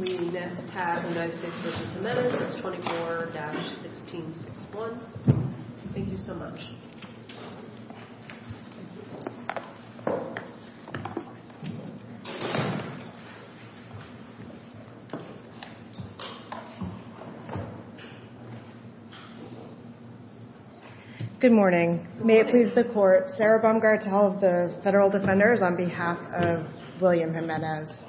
We next have the United States v. Jimenez, S. 24-1661. Thank you so much. Good morning. May it please the court, Sarah Baumgartel of the Federal Defenders on behalf of William Jimenez.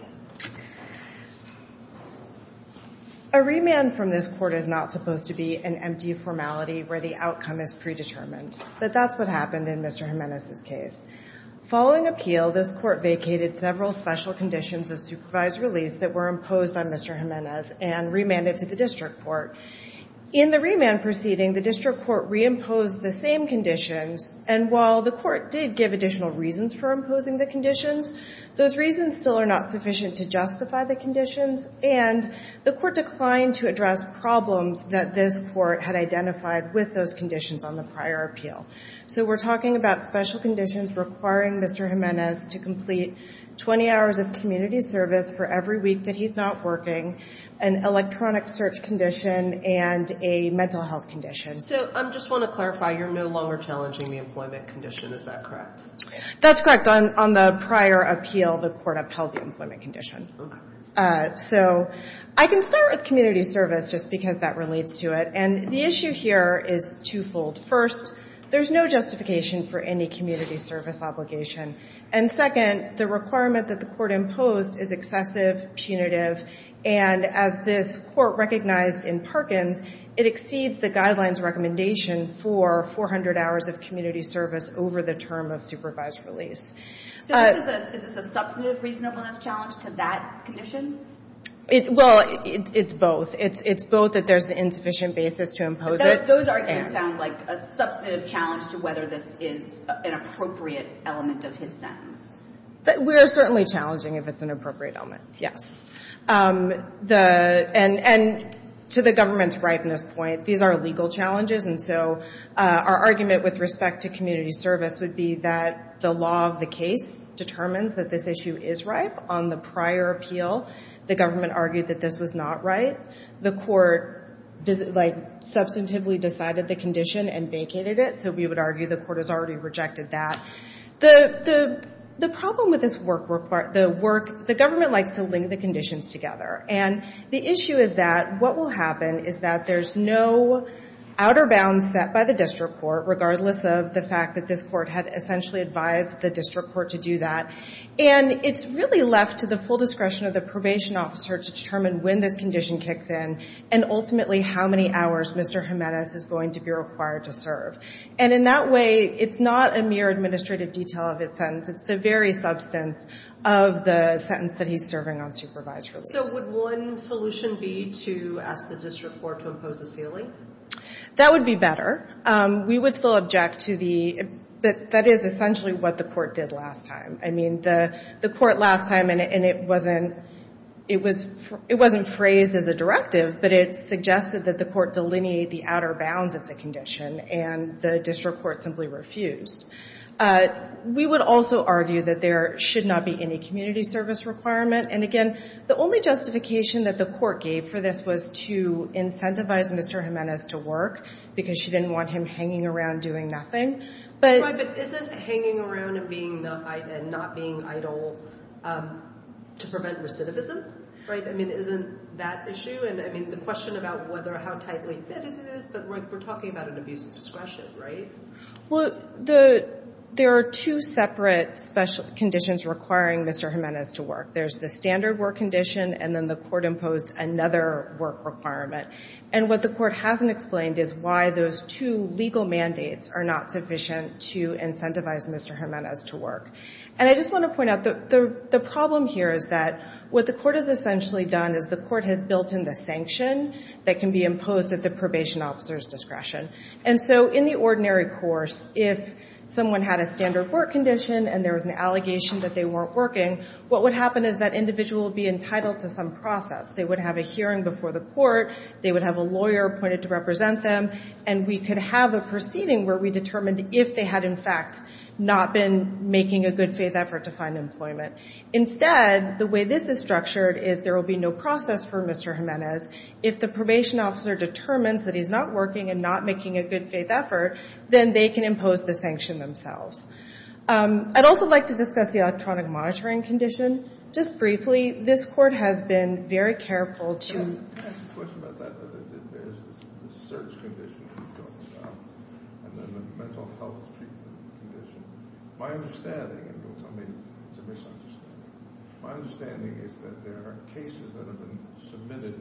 A remand from this court is not supposed to be an empty formality where the outcome is predetermined. But that's what happened in Mr. Jimenez's case. Following appeal, this court vacated several special conditions of supervised release that were imposed on Mr. Jimenez and remanded to the district court. In the remand proceeding, the district court reimposed the same conditions. And while the court did give additional reasons for imposing the conditions, those reasons still are not sufficient to justify the conditions. And the court declined to address problems that this court had identified with those conditions on the prior appeal. So we're talking about special conditions requiring Mr. Jimenez to complete 20 hours of community service for every week that he's not working, an electronic search condition, and a mental health condition. So I just want to clarify, you're no longer challenging the employment condition. Is that correct? That's correct. On the prior appeal, the court upheld the employment condition. So I can start with community service just because that relates to it. And the issue here is twofold. First, there's no justification for any community service obligation. And second, the requirement that the court imposed is excessive, punitive. And as this court recognized in Perkins, it exceeds the guidelines recommendation for 400 hours of community service over the term of supervised release. So is this a substantive reasonableness challenge to that condition? Well, it's both. It's both that there's an insufficient basis to impose it. Those arguments sound like a substantive challenge to whether this is an appropriate element of his sentence. We're certainly challenging if it's an appropriate element, yes. And to the government's ripeness point, these are legal challenges. And so our argument with respect to community service would be that the law of the case determines that this issue is ripe on the prior appeal. The government argued that this was not right. The court substantively decided the condition and vacated it. So we would argue the court has already rejected that. The problem with this work, the government likes to link the conditions together. And the issue is that what will happen is that there's no outer bounds set by the district court, regardless of the fact that this court had essentially advised the district court to do that. And it's really left to the full discretion of the probation officer to determine when this condition kicks in and ultimately how many hours Mr. Jimenez is going to be required to serve. And in that way, it's not a mere administrative detail of its sentence. It's the very substance of the sentence that he's serving on supervised release. So would one solution be to ask the district court to impose a ceiling? That would be better. We would still object to the, but that is essentially what the court did last time. I mean, the court last time, and it wasn't phrased as a directive, but it suggested that the court delineate the outer bounds of the condition. And the district court simply refused. We would also argue that there should not be any community service requirement. And again, the only justification that the court gave for this was to incentivize Mr. Jimenez to work, because she didn't want him hanging around doing nothing. But isn't hanging around and not being idle to prevent recidivism, right? I mean, isn't that issue? And I mean, the question about how tightly fitted it is, but we're talking about an abuse of discretion, right? Well, there are two separate special conditions requiring Mr. Jimenez to work. There's the standard work condition, and then the court imposed another work requirement. And what the court hasn't explained is why those two legal mandates are not sufficient to incentivize Mr. Jimenez to work. And I just want to point out that the problem here is that what the court has essentially done is the court has built in the sanction that can be imposed at the probation officer's discretion. And so in the ordinary course, if someone had a standard work condition and there was an allegation that they weren't working, what would happen is that individual would be entitled to some process. They would have a hearing before the court. They would have a lawyer appointed to represent them. And we could have a proceeding where we determined if they had, in fact, not been making a good faith effort to find employment. Instead, the way this is structured is there will be no process for Mr. Jimenez. If the probation officer determines that he's not working and not making a good faith effort, then they can impose the sanction themselves. I'd also like to discuss the electronic monitoring condition. Just briefly, this court has been very careful to There's a question about that. There is this search condition that you talked about and then a mental health treatment condition. My understanding, and don't tell me it's a misunderstanding, my understanding is that there are cases that have been submitted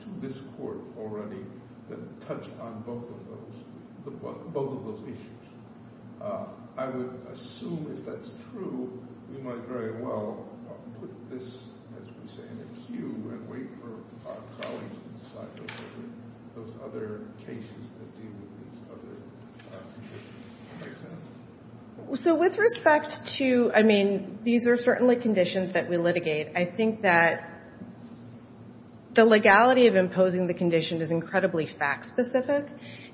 to this court already that touch on both of those issues. I would assume, if that's true, we might very well put this, as we say, in a queue and wait for our colleagues to decide those other cases that deal with these other conditions. Does that make sense? So with respect to, I mean, these are certainly conditions that we litigate. I think that the legality of imposing the condition is incredibly fact-specific.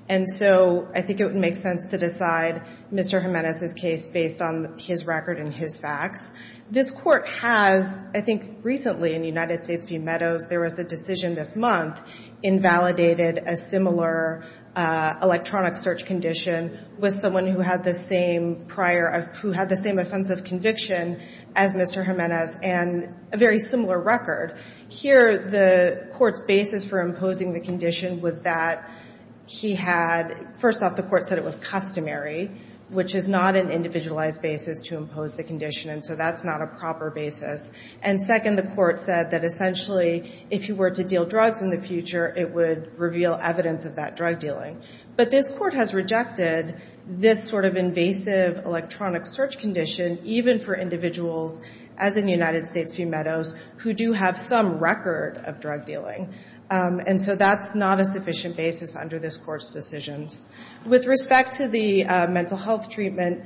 And so I think it would make sense to decide Mr. Jimenez's case based on his record and his facts. This court has, I think recently in United States v. Meadows, there was a decision this month invalidated a similar electronic search condition with someone who had the same prior, who had the same offensive conviction as Mr. Jimenez and a very similar record. Here, the court's basis for imposing the condition was that he had, first off, the court said it was customary, which is not an individualized basis to impose the condition. And so that's not a proper basis. And second, the court said that essentially, if he were to deal drugs in the future, it would reveal evidence of that drug dealing. But this court has rejected this sort of invasive electronic search condition, even for individuals, as in United States v. Meadows, who do have some record of drug dealing. And so that's not a sufficient basis under this court's decisions. With respect to the mental health treatment,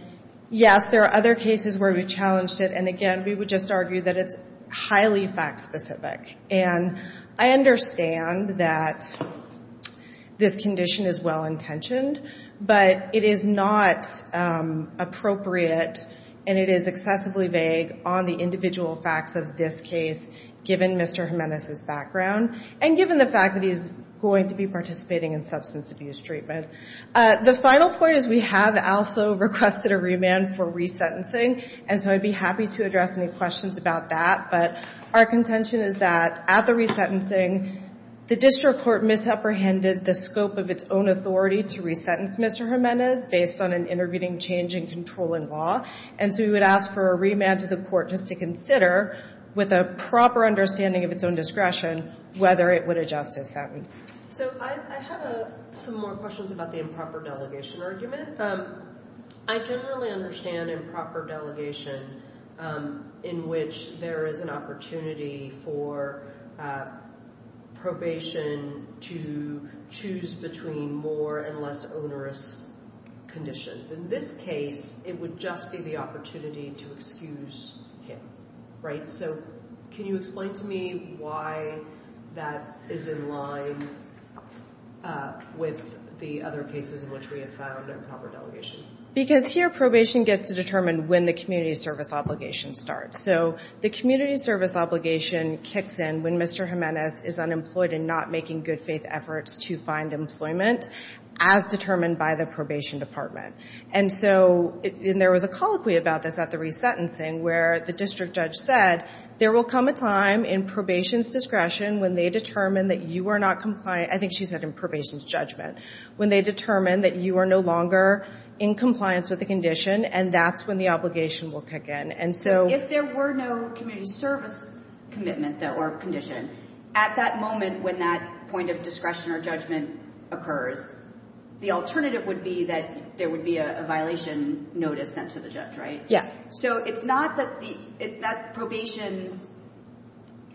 yes, there are other cases where we challenged it. And again, we would just argue that it's highly fact specific. And I understand that this condition is well-intentioned, but it is not appropriate and it is excessively vague on the individual facts of this case, given Mr. Jimenez's background, and given the fact that he's going to be participating in substance abuse treatment. The final point is we have also requested a remand for resentencing. And so I'd be happy to address any questions about that. But our contention is that at the resentencing, the district court misapprehended the scope of its own authority to resentence Mr. Jimenez based on an intervening change in controlling law. And so we would ask for a remand to the court just to consider, with a proper understanding of its own discretion, whether it would adjust his patents. So I have some more questions about the improper delegation argument. I generally understand improper delegation in which there is an opportunity for probation to choose between more and less onerous conditions. In this case, it would just be the opportunity to excuse him, right? So can you explain to me why that is in line with the other cases in which we have found improper delegation? Because here, probation gets to determine when the community service obligation starts. So the community service obligation kicks in when Mr. Jimenez is unemployed and not making good faith efforts to find employment, as determined by the probation department. And so there was a colloquy about this at the resentencing, where the district judge said, there will come a time in probation's discretion when they determine that you are not compliant. I think she said in probation's judgment, when they determine that you are no longer in compliance with the condition. And that's when the obligation will kick in. And so if there were no community service commitment or condition, at that moment when that point of discretion or judgment occurs, the alternative would be that there would be a violation notice sent to the judge, right? Yes. So it's not that probation's.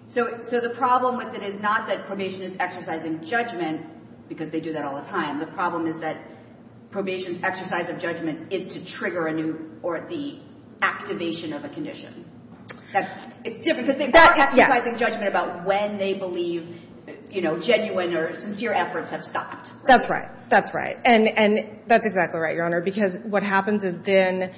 So the problem with it is not that probation is exercising judgment, because they do that all the time. The problem is that probation's exercise of judgment is to trigger a new or the activation of a condition. It's different, because they are exercising judgment about when they believe genuine or sincere efforts have stopped. That's right. That's right. And that's exactly right, Your Honor. Because what happens is then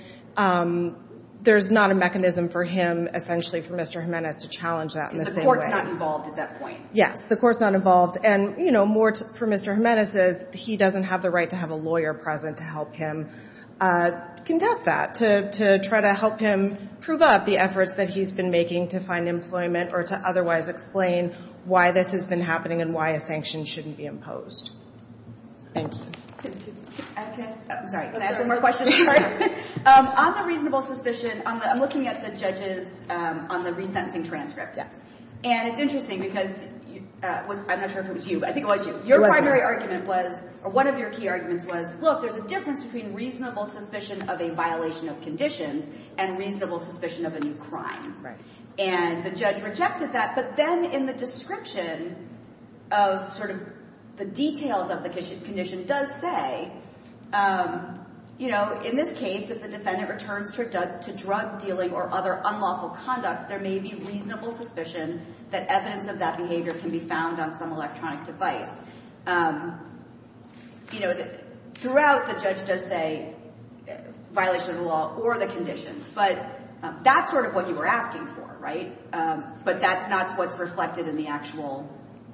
there's not a mechanism for him, essentially, for Mr. Jimenez to challenge that in the same way. Because the court's not involved at that point. Yes, the court's not involved. And more for Mr. Jimenez is he doesn't have the right to have a lawyer present to help him contest that, to try to help him prove up the efforts that he's been making to find employment or to otherwise explain why this has been happening and why a sanction shouldn't be imposed. Thank you. Can I ask one more question? Can I ask one more question? On the reasonable suspicion, I'm looking at the judges on the re-sensing transcript. And it's interesting, because I'm not sure if it was you. I think it was you. Your primary argument was, or one of your key arguments was, look, there's a difference between reasonable suspicion of a violation of conditions and reasonable suspicion of a new crime. And the judge rejected that. But then in the description of the details of the condition does say, in this case, if the defendant returns to drug dealing or other unlawful conduct, there may be reasonable suspicion that evidence of that behavior can be found on some electronic device. Throughout, the judge does say violation of the law or the conditions. But that's sort of what you were asking for, right? But that's not what's reflected in the actual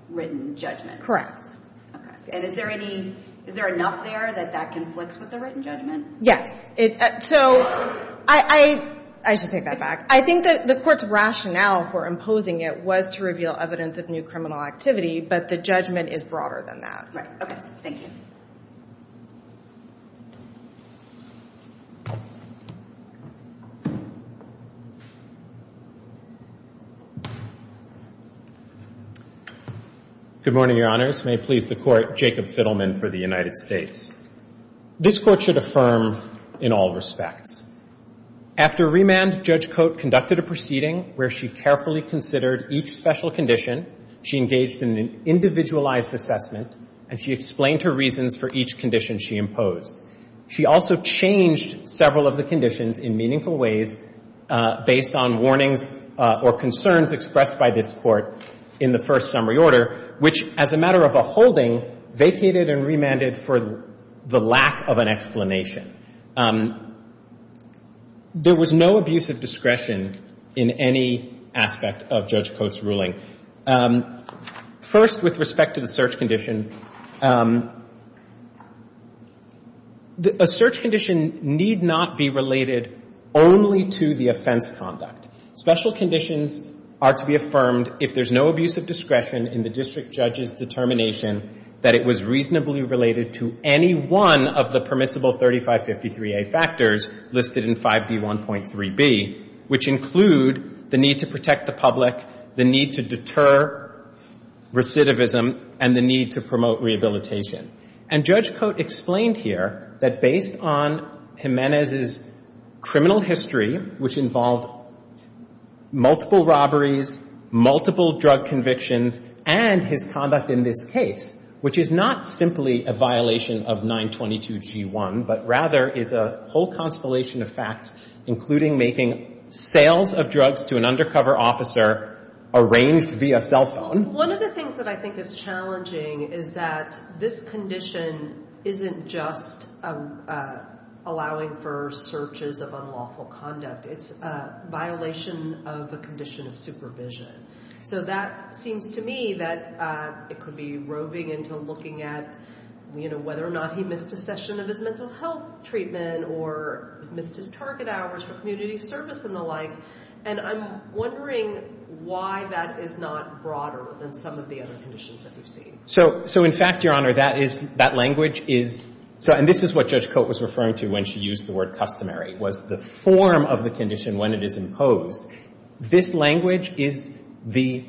written judgment. And is there enough there that that conflicts with the written judgment? Yes. So I should take that back. I think that the court's rationale for imposing it was to reveal evidence of new criminal activity. But the judgment is broader than that. Right. OK. Thank you. Good morning, Your Honors. May it please the Court, Jacob Fiddleman for the United States. This court should affirm in all respects. After remand, Judge Coate conducted a proceeding where she carefully considered each special condition. She engaged in an individualized assessment. And she explained her reasons for each condition she imposed. She also changed several of the conditions in meaningful ways based on warnings or concerns expressed by this court in the first summary order, which, as a matter of a holding, vacated and remanded for the lack of an explanation. There was no abuse of discretion in any aspect of Judge Coate's ruling. First, with respect to the search condition, a search condition need not be related only to the offense conduct. Special conditions are to be affirmed if there's no abuse of discretion in the district judge's determination that it was reasonably related to any one of the permissible 3553A factors listed in 5D1.3b, which include the need to protect the public, the need to deter recidivism, and the need to promote rehabilitation. And Judge Coate explained here that based on Jimenez's criminal history, which involved multiple robberies, multiple drug convictions, and his conduct in this case, which is not simply a violation of 922G1, but rather is a whole constellation of facts, including making sales of drugs to an undercover officer arranged via cell phone. One of the things that I think is challenging is that this condition isn't just allowing for searches of unlawful conduct. It's a violation of a condition of supervision. So that seems to me that it could be roving into looking at whether or not he missed a session of his mental health treatment or missed his target hours for community service and the like. And I'm wondering why that is not broader than some of the other conditions that we've seen. So in fact, Your Honor, that language is, and this is what Judge Coate was referring to when she used the word customary, was the form of the condition when it is imposed. This language is the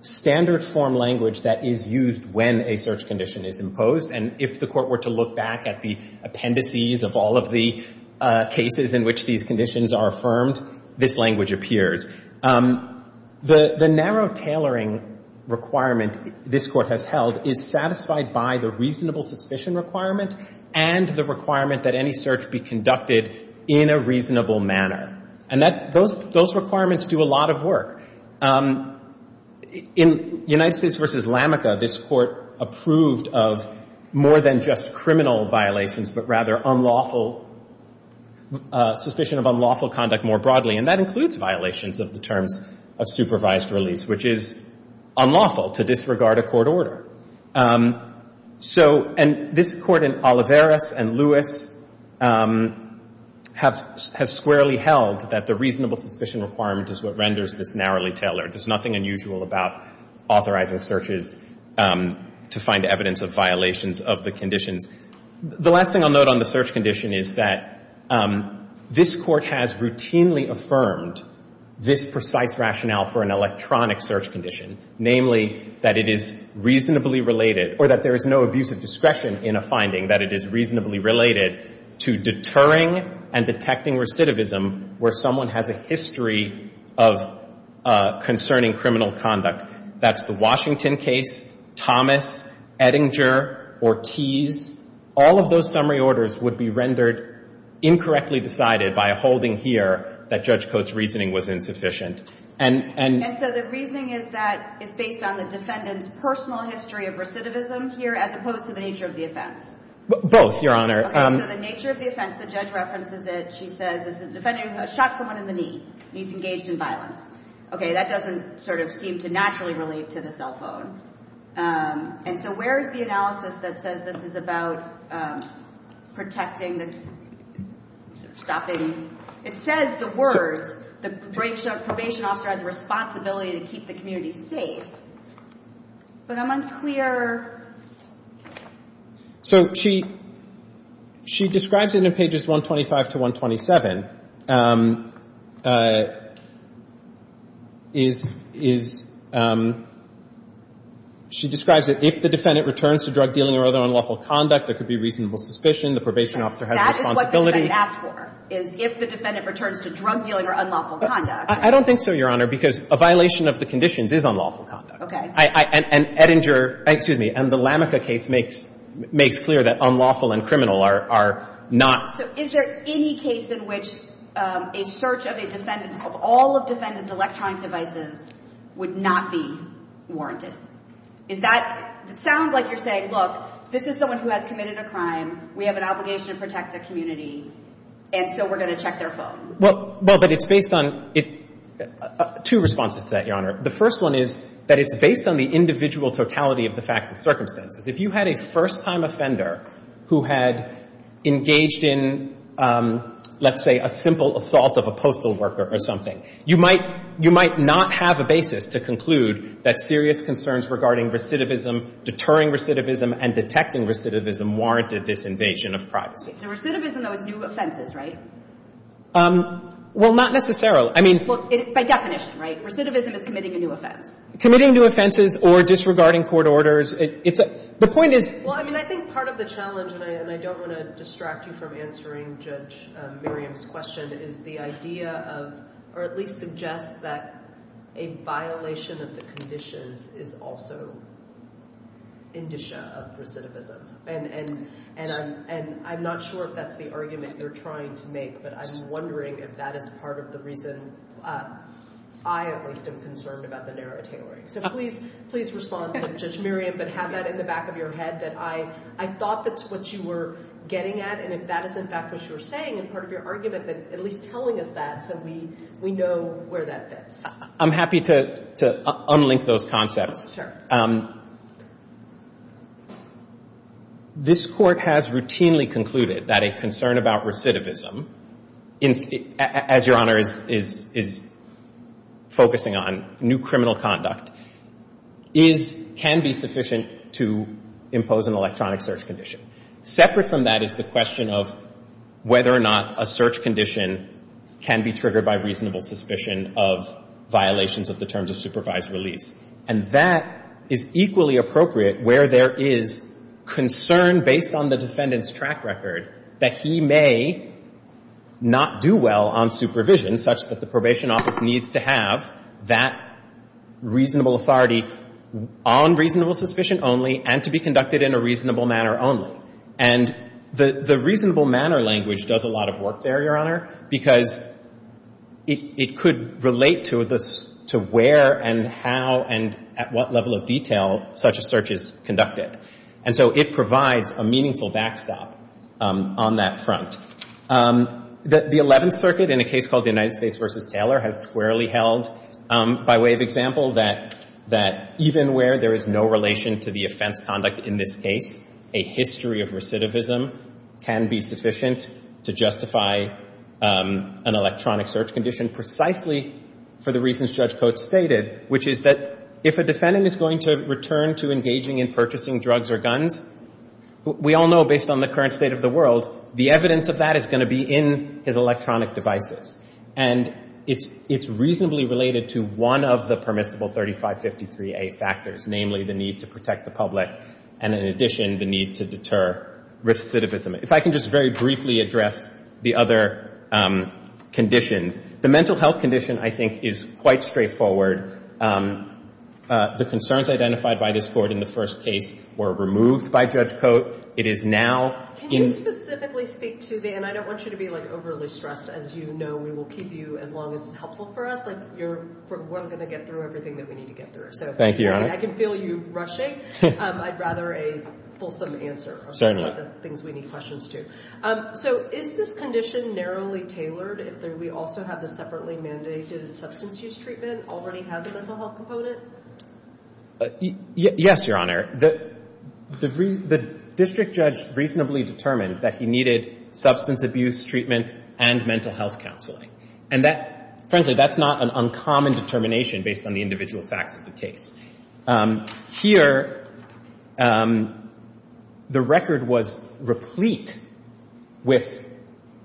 standard form language that is used when a search condition is imposed. And if the court were to look back at the appendices of all of the cases in which these conditions are affirmed, this language appears. The narrow tailoring requirement this court has held is satisfied by the reasonable suspicion requirement and the requirement that any search be conducted in a reasonable manner. And those requirements do a lot of work. In United States v. Lamaca, this court approved of more than just criminal violations, but rather suspicion of unlawful conduct more broadly. And that includes violations of the terms of supervised release, which is unlawful to disregard a court order. And this court in Olivares and Lewis have squarely held that the reasonable suspicion requirement is what renders this narrowly tailored. There's nothing unusual about authorizing searches to find evidence of violations of the conditions. The last thing I'll note on the search condition is that this court has routinely affirmed this precise rationale for an electronic search condition, namely, that it is reasonably related, or that there is no abuse of discretion in a finding, that it is reasonably related to deterring and detecting recidivism where someone has a history of concerning criminal conduct. That's the Washington case, Thomas, Edinger, Ortiz. All of those summary orders would be rendered incorrectly decided by a holding here that Judge Coates' reasoning was insufficient. And so the reasoning is that it's based on the defendant's personal history of recidivism here, as opposed to the nature of the offense? Both, Your Honor. OK, so the nature of the offense, the judge references it. She says, the defendant shot someone in the knee. He's engaged in violence. OK, that doesn't seem to naturally relate to the cell phone. And so where is the analysis that says this is about protecting the stopping? It says the words, the probation officer has a responsibility to keep the community safe. But I'm unclear. So she describes it in pages 125 to 127. She describes it, if the defendant returns to drug dealing or other unlawful conduct, there could be reasonable suspicion. The probation officer has a responsibility. So what the defendant asked for is, if the defendant returns to drug dealing or unlawful conduct. I don't think so, Your Honor, because a violation of the conditions is unlawful conduct. OK. And Ettinger, excuse me, and the Lamica case makes clear that unlawful and criminal are not. So is there any case in which a search of a defendant's, of all of defendant's electronic devices, would not be warranted? Is that, it sounds like you're saying, look, this is someone who has committed a crime. We have an obligation to protect the community. And so we're going to check their phone. Well, but it's based on two responses to that, Your Honor. The first one is that it's based on the individual totality of the facts and circumstances. If you had a first-time offender who had engaged in, let's say, a simple assault of a postal worker or something, you might not have a basis to conclude that serious concerns regarding recidivism, deterring recidivism, and detecting recidivism warranted this invasion of privacy. So recidivism, though, is new offenses, right? Well, not necessarily. I mean, by definition, right? Recidivism is committing a new offense. Committing new offenses or disregarding court orders, the point is. Well, I mean, I think part of the challenge, and I don't want to distract you from answering Judge Miriam's question, is the idea of, or at least suggest that a violation of the conditions is also indicia of recidivism. And I'm not sure if that's the argument you're trying to make, but I'm wondering if that is part of the reason I, at least, am concerned about the narrow tailoring. So please respond to Judge Miriam, but have that in the back of your head, that I thought that's what you were getting at. And if that is, in fact, what you were saying in part of your argument, at least telling us that so we know where that fits. I'm happy to unlink those concepts. Sure. This Court has routinely concluded that a concern about recidivism, as Your Honor is focusing on new criminal conduct, can be sufficient to impose an electronic search condition. Separate from that is the question of whether or not a search condition can be triggered by reasonable suspicion of violations of the terms of supervised release. And that is equally appropriate where there is concern based on the defendant's track record that he may not do well on supervision, such that the probation office needs to have that reasonable authority on reasonable suspicion only and to be conducted in a reasonable manner only. And the reasonable manner language does a lot of work there, Your Honor, because it could relate to where and how and at what level of detail such a search is conducted. And so it provides a meaningful backstop on that front. The 11th Circuit, in a case called the United States v. Taylor, has squarely held by way of example that even where there is no relation to the offense conduct in this case, a history of recidivism can be sufficient to justify an electronic search condition precisely for the reasons Judge Coates stated, which is that if a defendant is going to return to engaging in purchasing drugs or guns, we all know based on the current state of the world, the evidence of that is going to be in his electronic devices. And it's reasonably related to one of the permissible 3553A factors, namely the need to protect the public and in addition, the need to deter recidivism. If I can just very briefly address the other conditions, the mental health condition, I think, is quite straightforward. The concerns identified by this court in the first case were removed by Judge Coates. It is now in- Can you specifically speak to the- and I don't want you to be overly stressed. As you know, we will keep you as long as it's helpful for us. Like, we're going to get through everything that we need to get through. So if I can feel you rushing, I'd rather a fulsome answer on some of the things we need questions to. So is this condition narrowly tailored? We also have the separately mandated substance use treatment already has a mental health component? Yes, Your Honor. The district judge reasonably determined that he needed substance abuse treatment and mental health counseling. And frankly, that's not an uncommon determination based on the individual facts of the case. Here, the record was replete with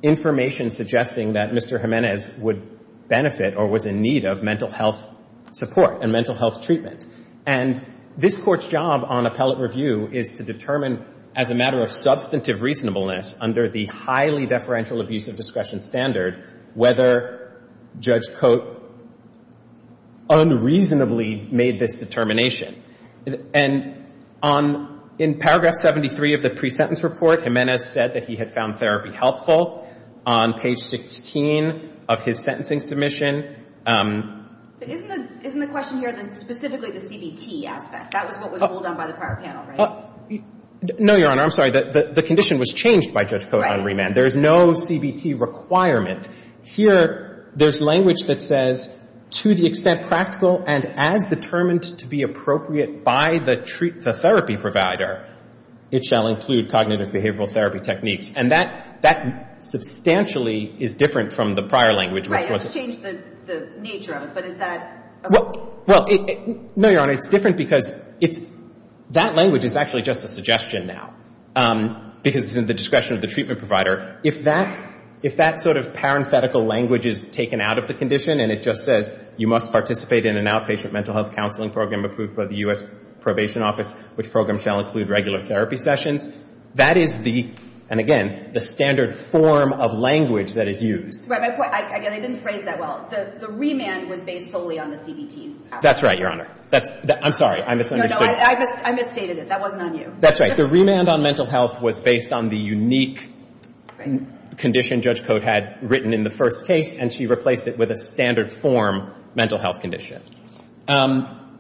information suggesting that Mr. Jimenez would benefit or was in need of mental health support and mental health treatment. And this court's job on appellate review is to determine, as a matter of substantive reasonableness under the highly deferential abuse of discretion standard, whether Judge Coates unreasonably made this determination. And in paragraph 73 of the pre-sentence report, Jimenez said that he had found therapy helpful on page 16 of his sentencing submission. But isn't the question here specifically the CBT aspect? That was what was pulled on by the prior panel, right? No, Your Honor, I'm sorry. The condition was changed by Judge Coates on remand. There is no CBT requirement. Here, there's language that says, to the extent practical and as determined to be appropriate by the therapy provider, it shall include cognitive behavioral therapy techniques. And that substantially is different from the prior language, which was Right, it's changed the nature of it, but is that appropriate? Well, no, Your Honor. It's different because that language is actually just a suggestion now, because it's in the discretion of the treatment provider. If that sort of parenthetical language is taken out of the condition, and it just says, you must participate in an outpatient mental health counseling program approved by the US Probation Office, which program shall include regular therapy sessions, that is the, and again, the standard form of language that is used. Right, my point, again, I didn't phrase that well. The remand was based solely on the CBT aspect. That's right, Your Honor. I'm sorry, I misunderstood. I misstated it. That wasn't on you. That's right. The remand on mental health was based on the unique condition Judge Coates had written in the first case, and she replaced it with a standard form mental health condition.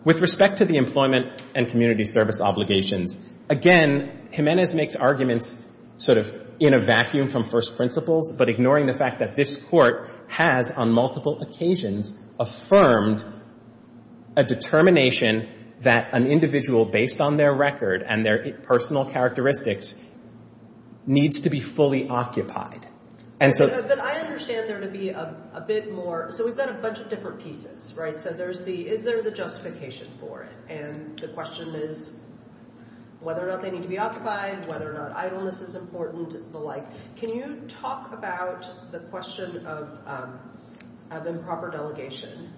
With respect to the employment and community service obligations, again, Jimenez makes arguments sort of in a vacuum from first principles, but ignoring the fact that this court has, on multiple occasions, affirmed a determination that an individual, based on their record and their personal characteristics, needs to be fully occupied. And so I understand there to be a bit more. So we've got a bunch of different pieces, right? Is there the justification for it? And the question is whether or not they need to be occupied, whether or not idleness is important, the like. Can you talk about the question of improper delegation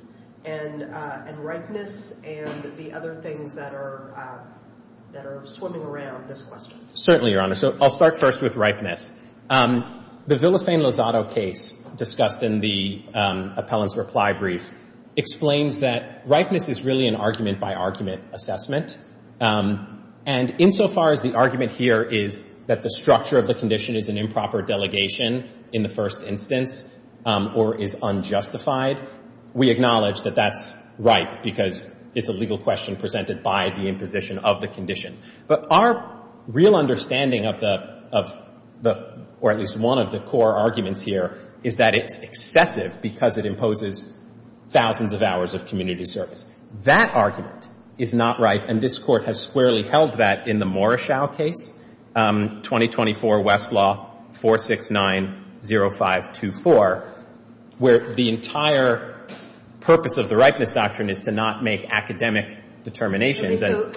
and ripeness and the other things that are swimming around this question? Certainly, Your Honor. So I'll start first with ripeness. The Villafane Lozado case discussed in the appellant's reply brief explains that ripeness is really an argument-by-argument assessment. And insofar as the argument here is that the structure of the condition is an improper delegation in the first instance or is unjustified, we acknowledge that that's right because it's a legal question presented by the imposition of the condition. But our real understanding of the, or at least one of the core arguments here, is that it's excessive because it imposes thousands of hours of community service. That argument is not right. And this Court has squarely held that in the Morrishow case, 2024 Westlaw 4690524, where the entire purpose of the ripeness doctrine is to not make academic determinations. So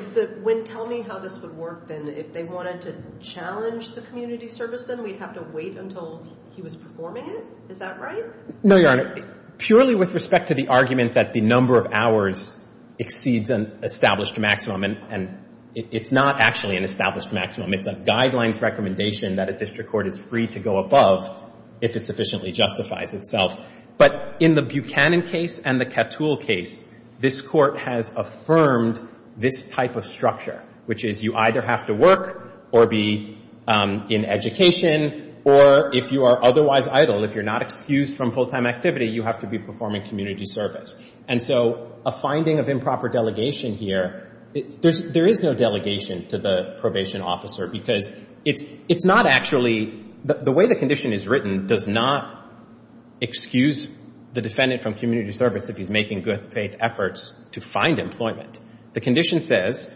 tell me how this would work, then. If they wanted to challenge the community service, then we'd have to wait until he was performing it? Is that right? No, Your Honor. Purely with respect to the argument that the number of hours exceeds an established maximum, and it's not actually an established maximum. It's a guidelines recommendation that a district court is free to go above if it sufficiently justifies itself. But in the Buchanan case and the Cattull case, this Court has affirmed this type of structure, which is you either have to work or be in education, or if you are otherwise idle, if you're not excused from full-time activity, you have to be performing community service. And so a finding of improper delegation here, there is no delegation to the probation officer because it's not actually, the way the condition is written does not excuse the defendant from community service if he's making good faith efforts to find employment. The condition says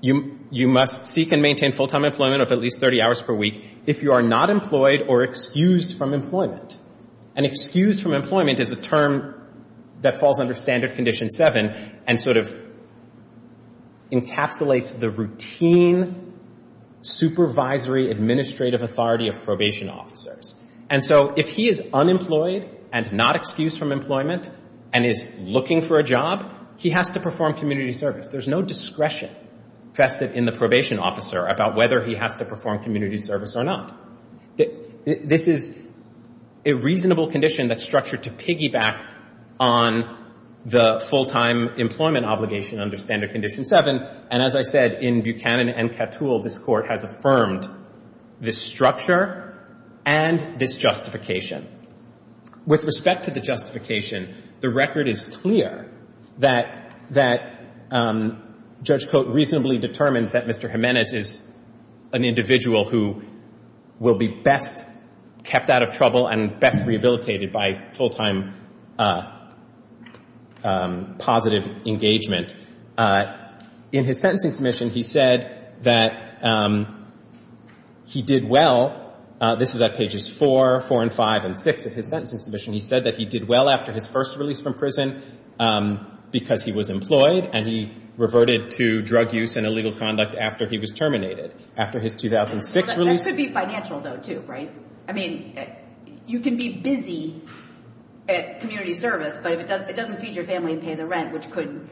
you must seek and maintain full-time employment of at least 30 hours per week if you are not employed or excused from employment. An excuse from employment is a term that falls under Standard Condition 7 and sort of encapsulates the routine supervisory administrative authority of probation officers. And so if he is unemployed and not excused from employment and is looking for a job, he has to perform community service. There's no discretion vested in the probation officer about whether he has to perform community service or not. This is a reasonable condition that's structured to piggyback on the full-time employment obligation under Standard Condition 7. And as I said, in Buchanan and Katul, this court has affirmed this structure and this justification. With respect to the justification, the record is clear that Judge Coate reasonably determines that Mr. Jimenez is an individual who will be best kept out of trouble and best rehabilitated by full-time positive engagement. In his sentencing submission, he said that he did well. This is at pages 4, 4 and 5, and 6 of his sentencing submission. He said that he did well after his first release from prison because he was employed. And he reverted to drug use and illegal conduct after he was terminated. After his 2006 release. That should be financial, though, too, right? I mean, you can be busy at community service, but it doesn't feed your family and pay the rent, which could.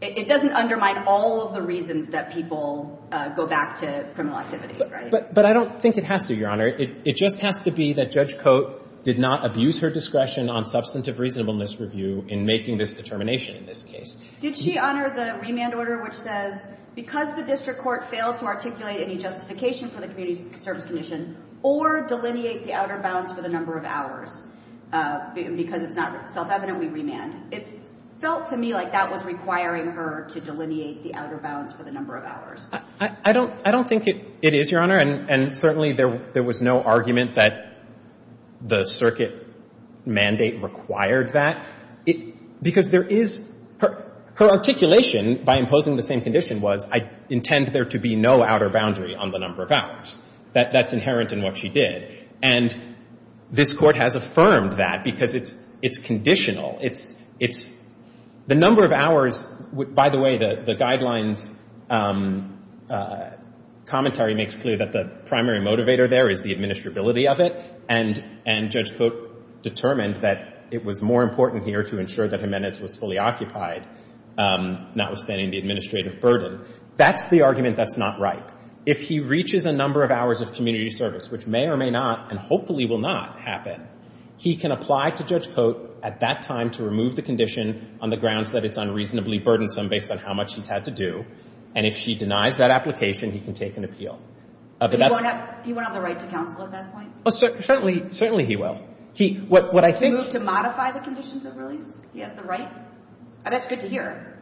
It doesn't undermine all of the reasons that people go back to criminal activity, right? But I don't think it has to, Your Honor. It just has to be that Judge Coate did not abuse her discretion on substantive reasonableness review in making this determination in this case. Did she honor the remand order, which says, because the district court failed to articulate any justification for the community service condition or delineate the outer bounds for the number of hours because it's not self-evident we remand? It felt to me like that was requiring her to delineate the outer bounds for the number of hours. I don't think it is, Your Honor. And certainly, there was no argument that the circuit mandate required that. Because there is her articulation by imposing the same condition was, I intend there to be no outer boundary on the number of hours. That's inherent in what she did. And this Court has affirmed that because it's conditional. It's the number of hours. By the way, the guidelines commentary makes clear that the primary motivator there is the administrability of it. And Judge Coate determined that it was more important here to ensure that Jimenez was fully occupied, notwithstanding the administrative burden. That's the argument that's not right. If he reaches a number of hours of community service, which may or may not, and hopefully will not, happen, he can apply to Judge Coate at that time to remove the condition on the grounds that it's unreasonably burdensome based on how much he's had to do. And if she denies that application, he can take an appeal. But he won't have the right to counsel at that point? Certainly he will. What I think Would he move to modify the conditions of release? He has the right? That's good to hear.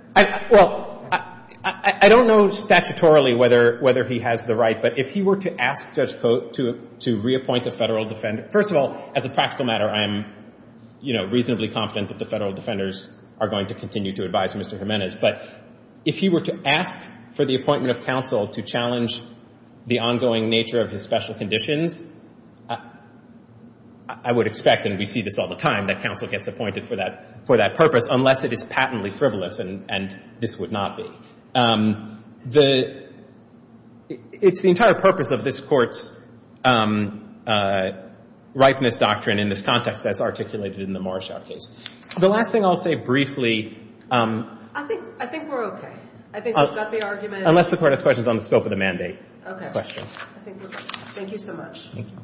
Well, I don't know statutorily whether he has the right. But if he were to ask Judge Coate to reappoint the federal defender, first of all, as a practical matter, I am reasonably confident that the federal defenders are going to continue to advise Mr. Jimenez. But if he were to ask for the appointment of counsel to challenge the ongoing nature of his special conditions, I would expect, and we see this all the time, that counsel gets appointed for that purpose, unless it is patently frivolous, and this would not be. It's the entire purpose of this Court's rightness doctrine in this context as articulated in the Morrishow case. The last thing I'll say briefly. I think we're OK. I think we've got the argument. Unless the Court has questions on the scope of the mandate. OK. Questions. I think we're good. Thank you so much. Thank you.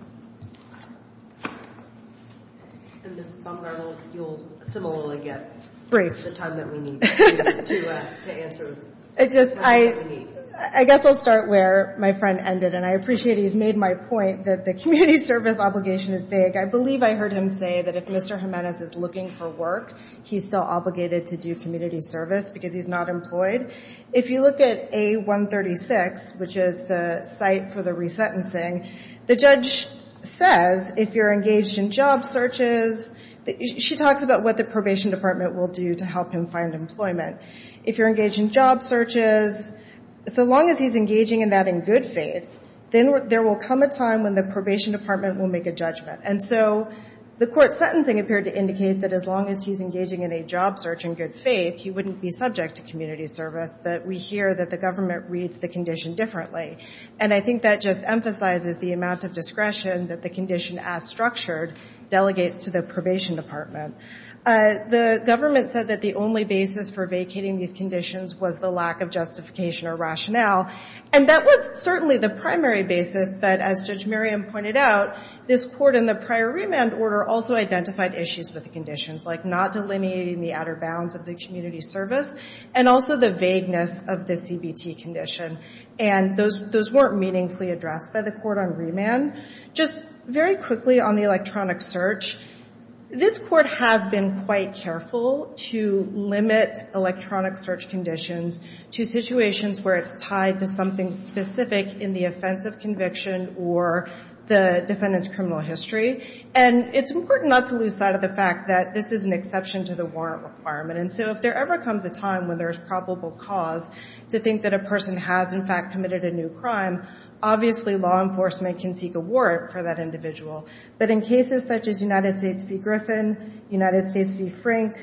And Ms. Bumgarl, you'll similarly get the time that we need to answer the questions that we need. I guess I'll start where my friend ended. And I appreciate he's made my point that the community service obligation is vague. I believe I heard him say that if Mr. Jimenez is looking for work, he's still obligated to do community service because he's not employed. If you look at A136, which is the site for the resentencing, the judge says, if you're engaged in job searches, she talks about what the probation department will do to help him find employment. If you're engaged in job searches, so long as he's engaging in that in good faith, then there will come a time when the probation department will make a judgment. And so the court sentencing appeared to indicate that as long as he's engaging in a job search in good faith, he couldn't be subject to community service, that we hear that the government reads the condition differently. And I think that just emphasizes the amount of discretion that the condition, as structured, delegates to the probation department. The government said that the only basis for vacating these conditions was the lack of justification or rationale. And that was certainly the primary basis. But as Judge Merriam pointed out, this court in the prior remand order also identified issues with the conditions, like not delineating the outer bounds of the community service, and also the vagueness of the CBT condition. And those weren't meaningfully addressed by the court on remand. Just very quickly on the electronic search, this court has been quite careful to limit electronic search conditions to situations where it's tied to something specific in the offense of conviction or the defendant's criminal history. And it's important not to lose sight of the fact that this is an exception to the warrant requirement. And so if there ever comes a time when there is probable cause to think that a person has, in fact, committed a new crime, obviously law enforcement can seek a warrant for that individual. But in cases such as United States v. Griffin, United States v. Frank,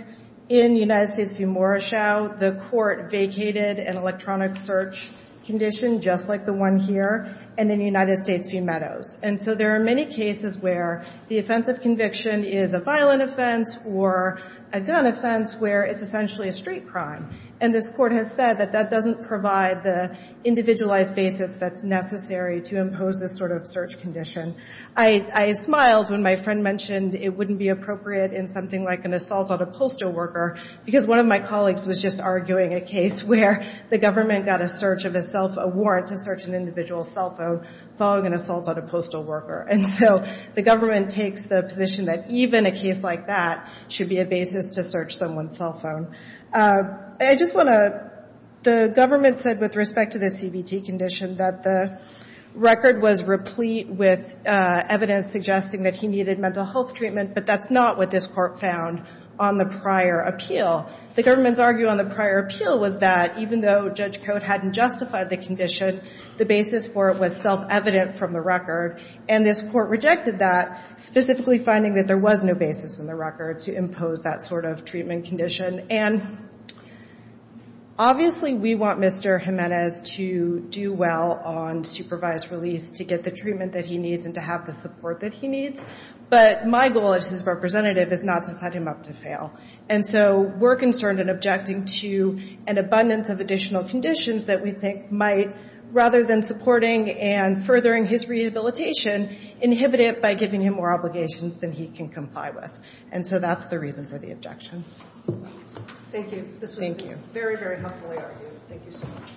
in United States v. Morrishow, the court vacated an electronic search condition, just like the one here, and in United States v. Meadows. And so there are many cases where the offense of conviction is a violent offense or a gun offense where it's essentially a street crime. And this court has said that that doesn't provide the individualized basis that's necessary to impose this sort of search condition. I smiled when my friend mentioned it wouldn't be appropriate in something like an assault on a postal worker because one of my colleagues was just arguing a case where the government got a search of a self-award to search an individual's cell phone following an assault on a postal worker. And so the government takes the position that even a case like that should be a basis to search someone's cell phone. I just want to, the government said with respect to the CBT condition that the record was replete with evidence suggesting that he needed mental health treatment, but that's not what this court found on the prior appeal. The government's argue on the prior appeal was that, even though Judge Code hadn't justified the condition, the basis for it was self-evident from the record. And this court rejected that, specifically finding that there was no basis in the record to impose that sort of treatment condition. And obviously, we want Mr. Jimenez to do well on supervised release to get the treatment that he needs and to have the support that he needs. But my goal as his representative is not to set him up to fail. And so we're concerned and objecting to an abundance of additional conditions that we think might, rather than supporting and furthering his rehabilitation, inhibit it by giving him more obligations than he can comply with. And so that's the reason for the objection. Thank you. This was very, very helpfully argued. Thank you so much.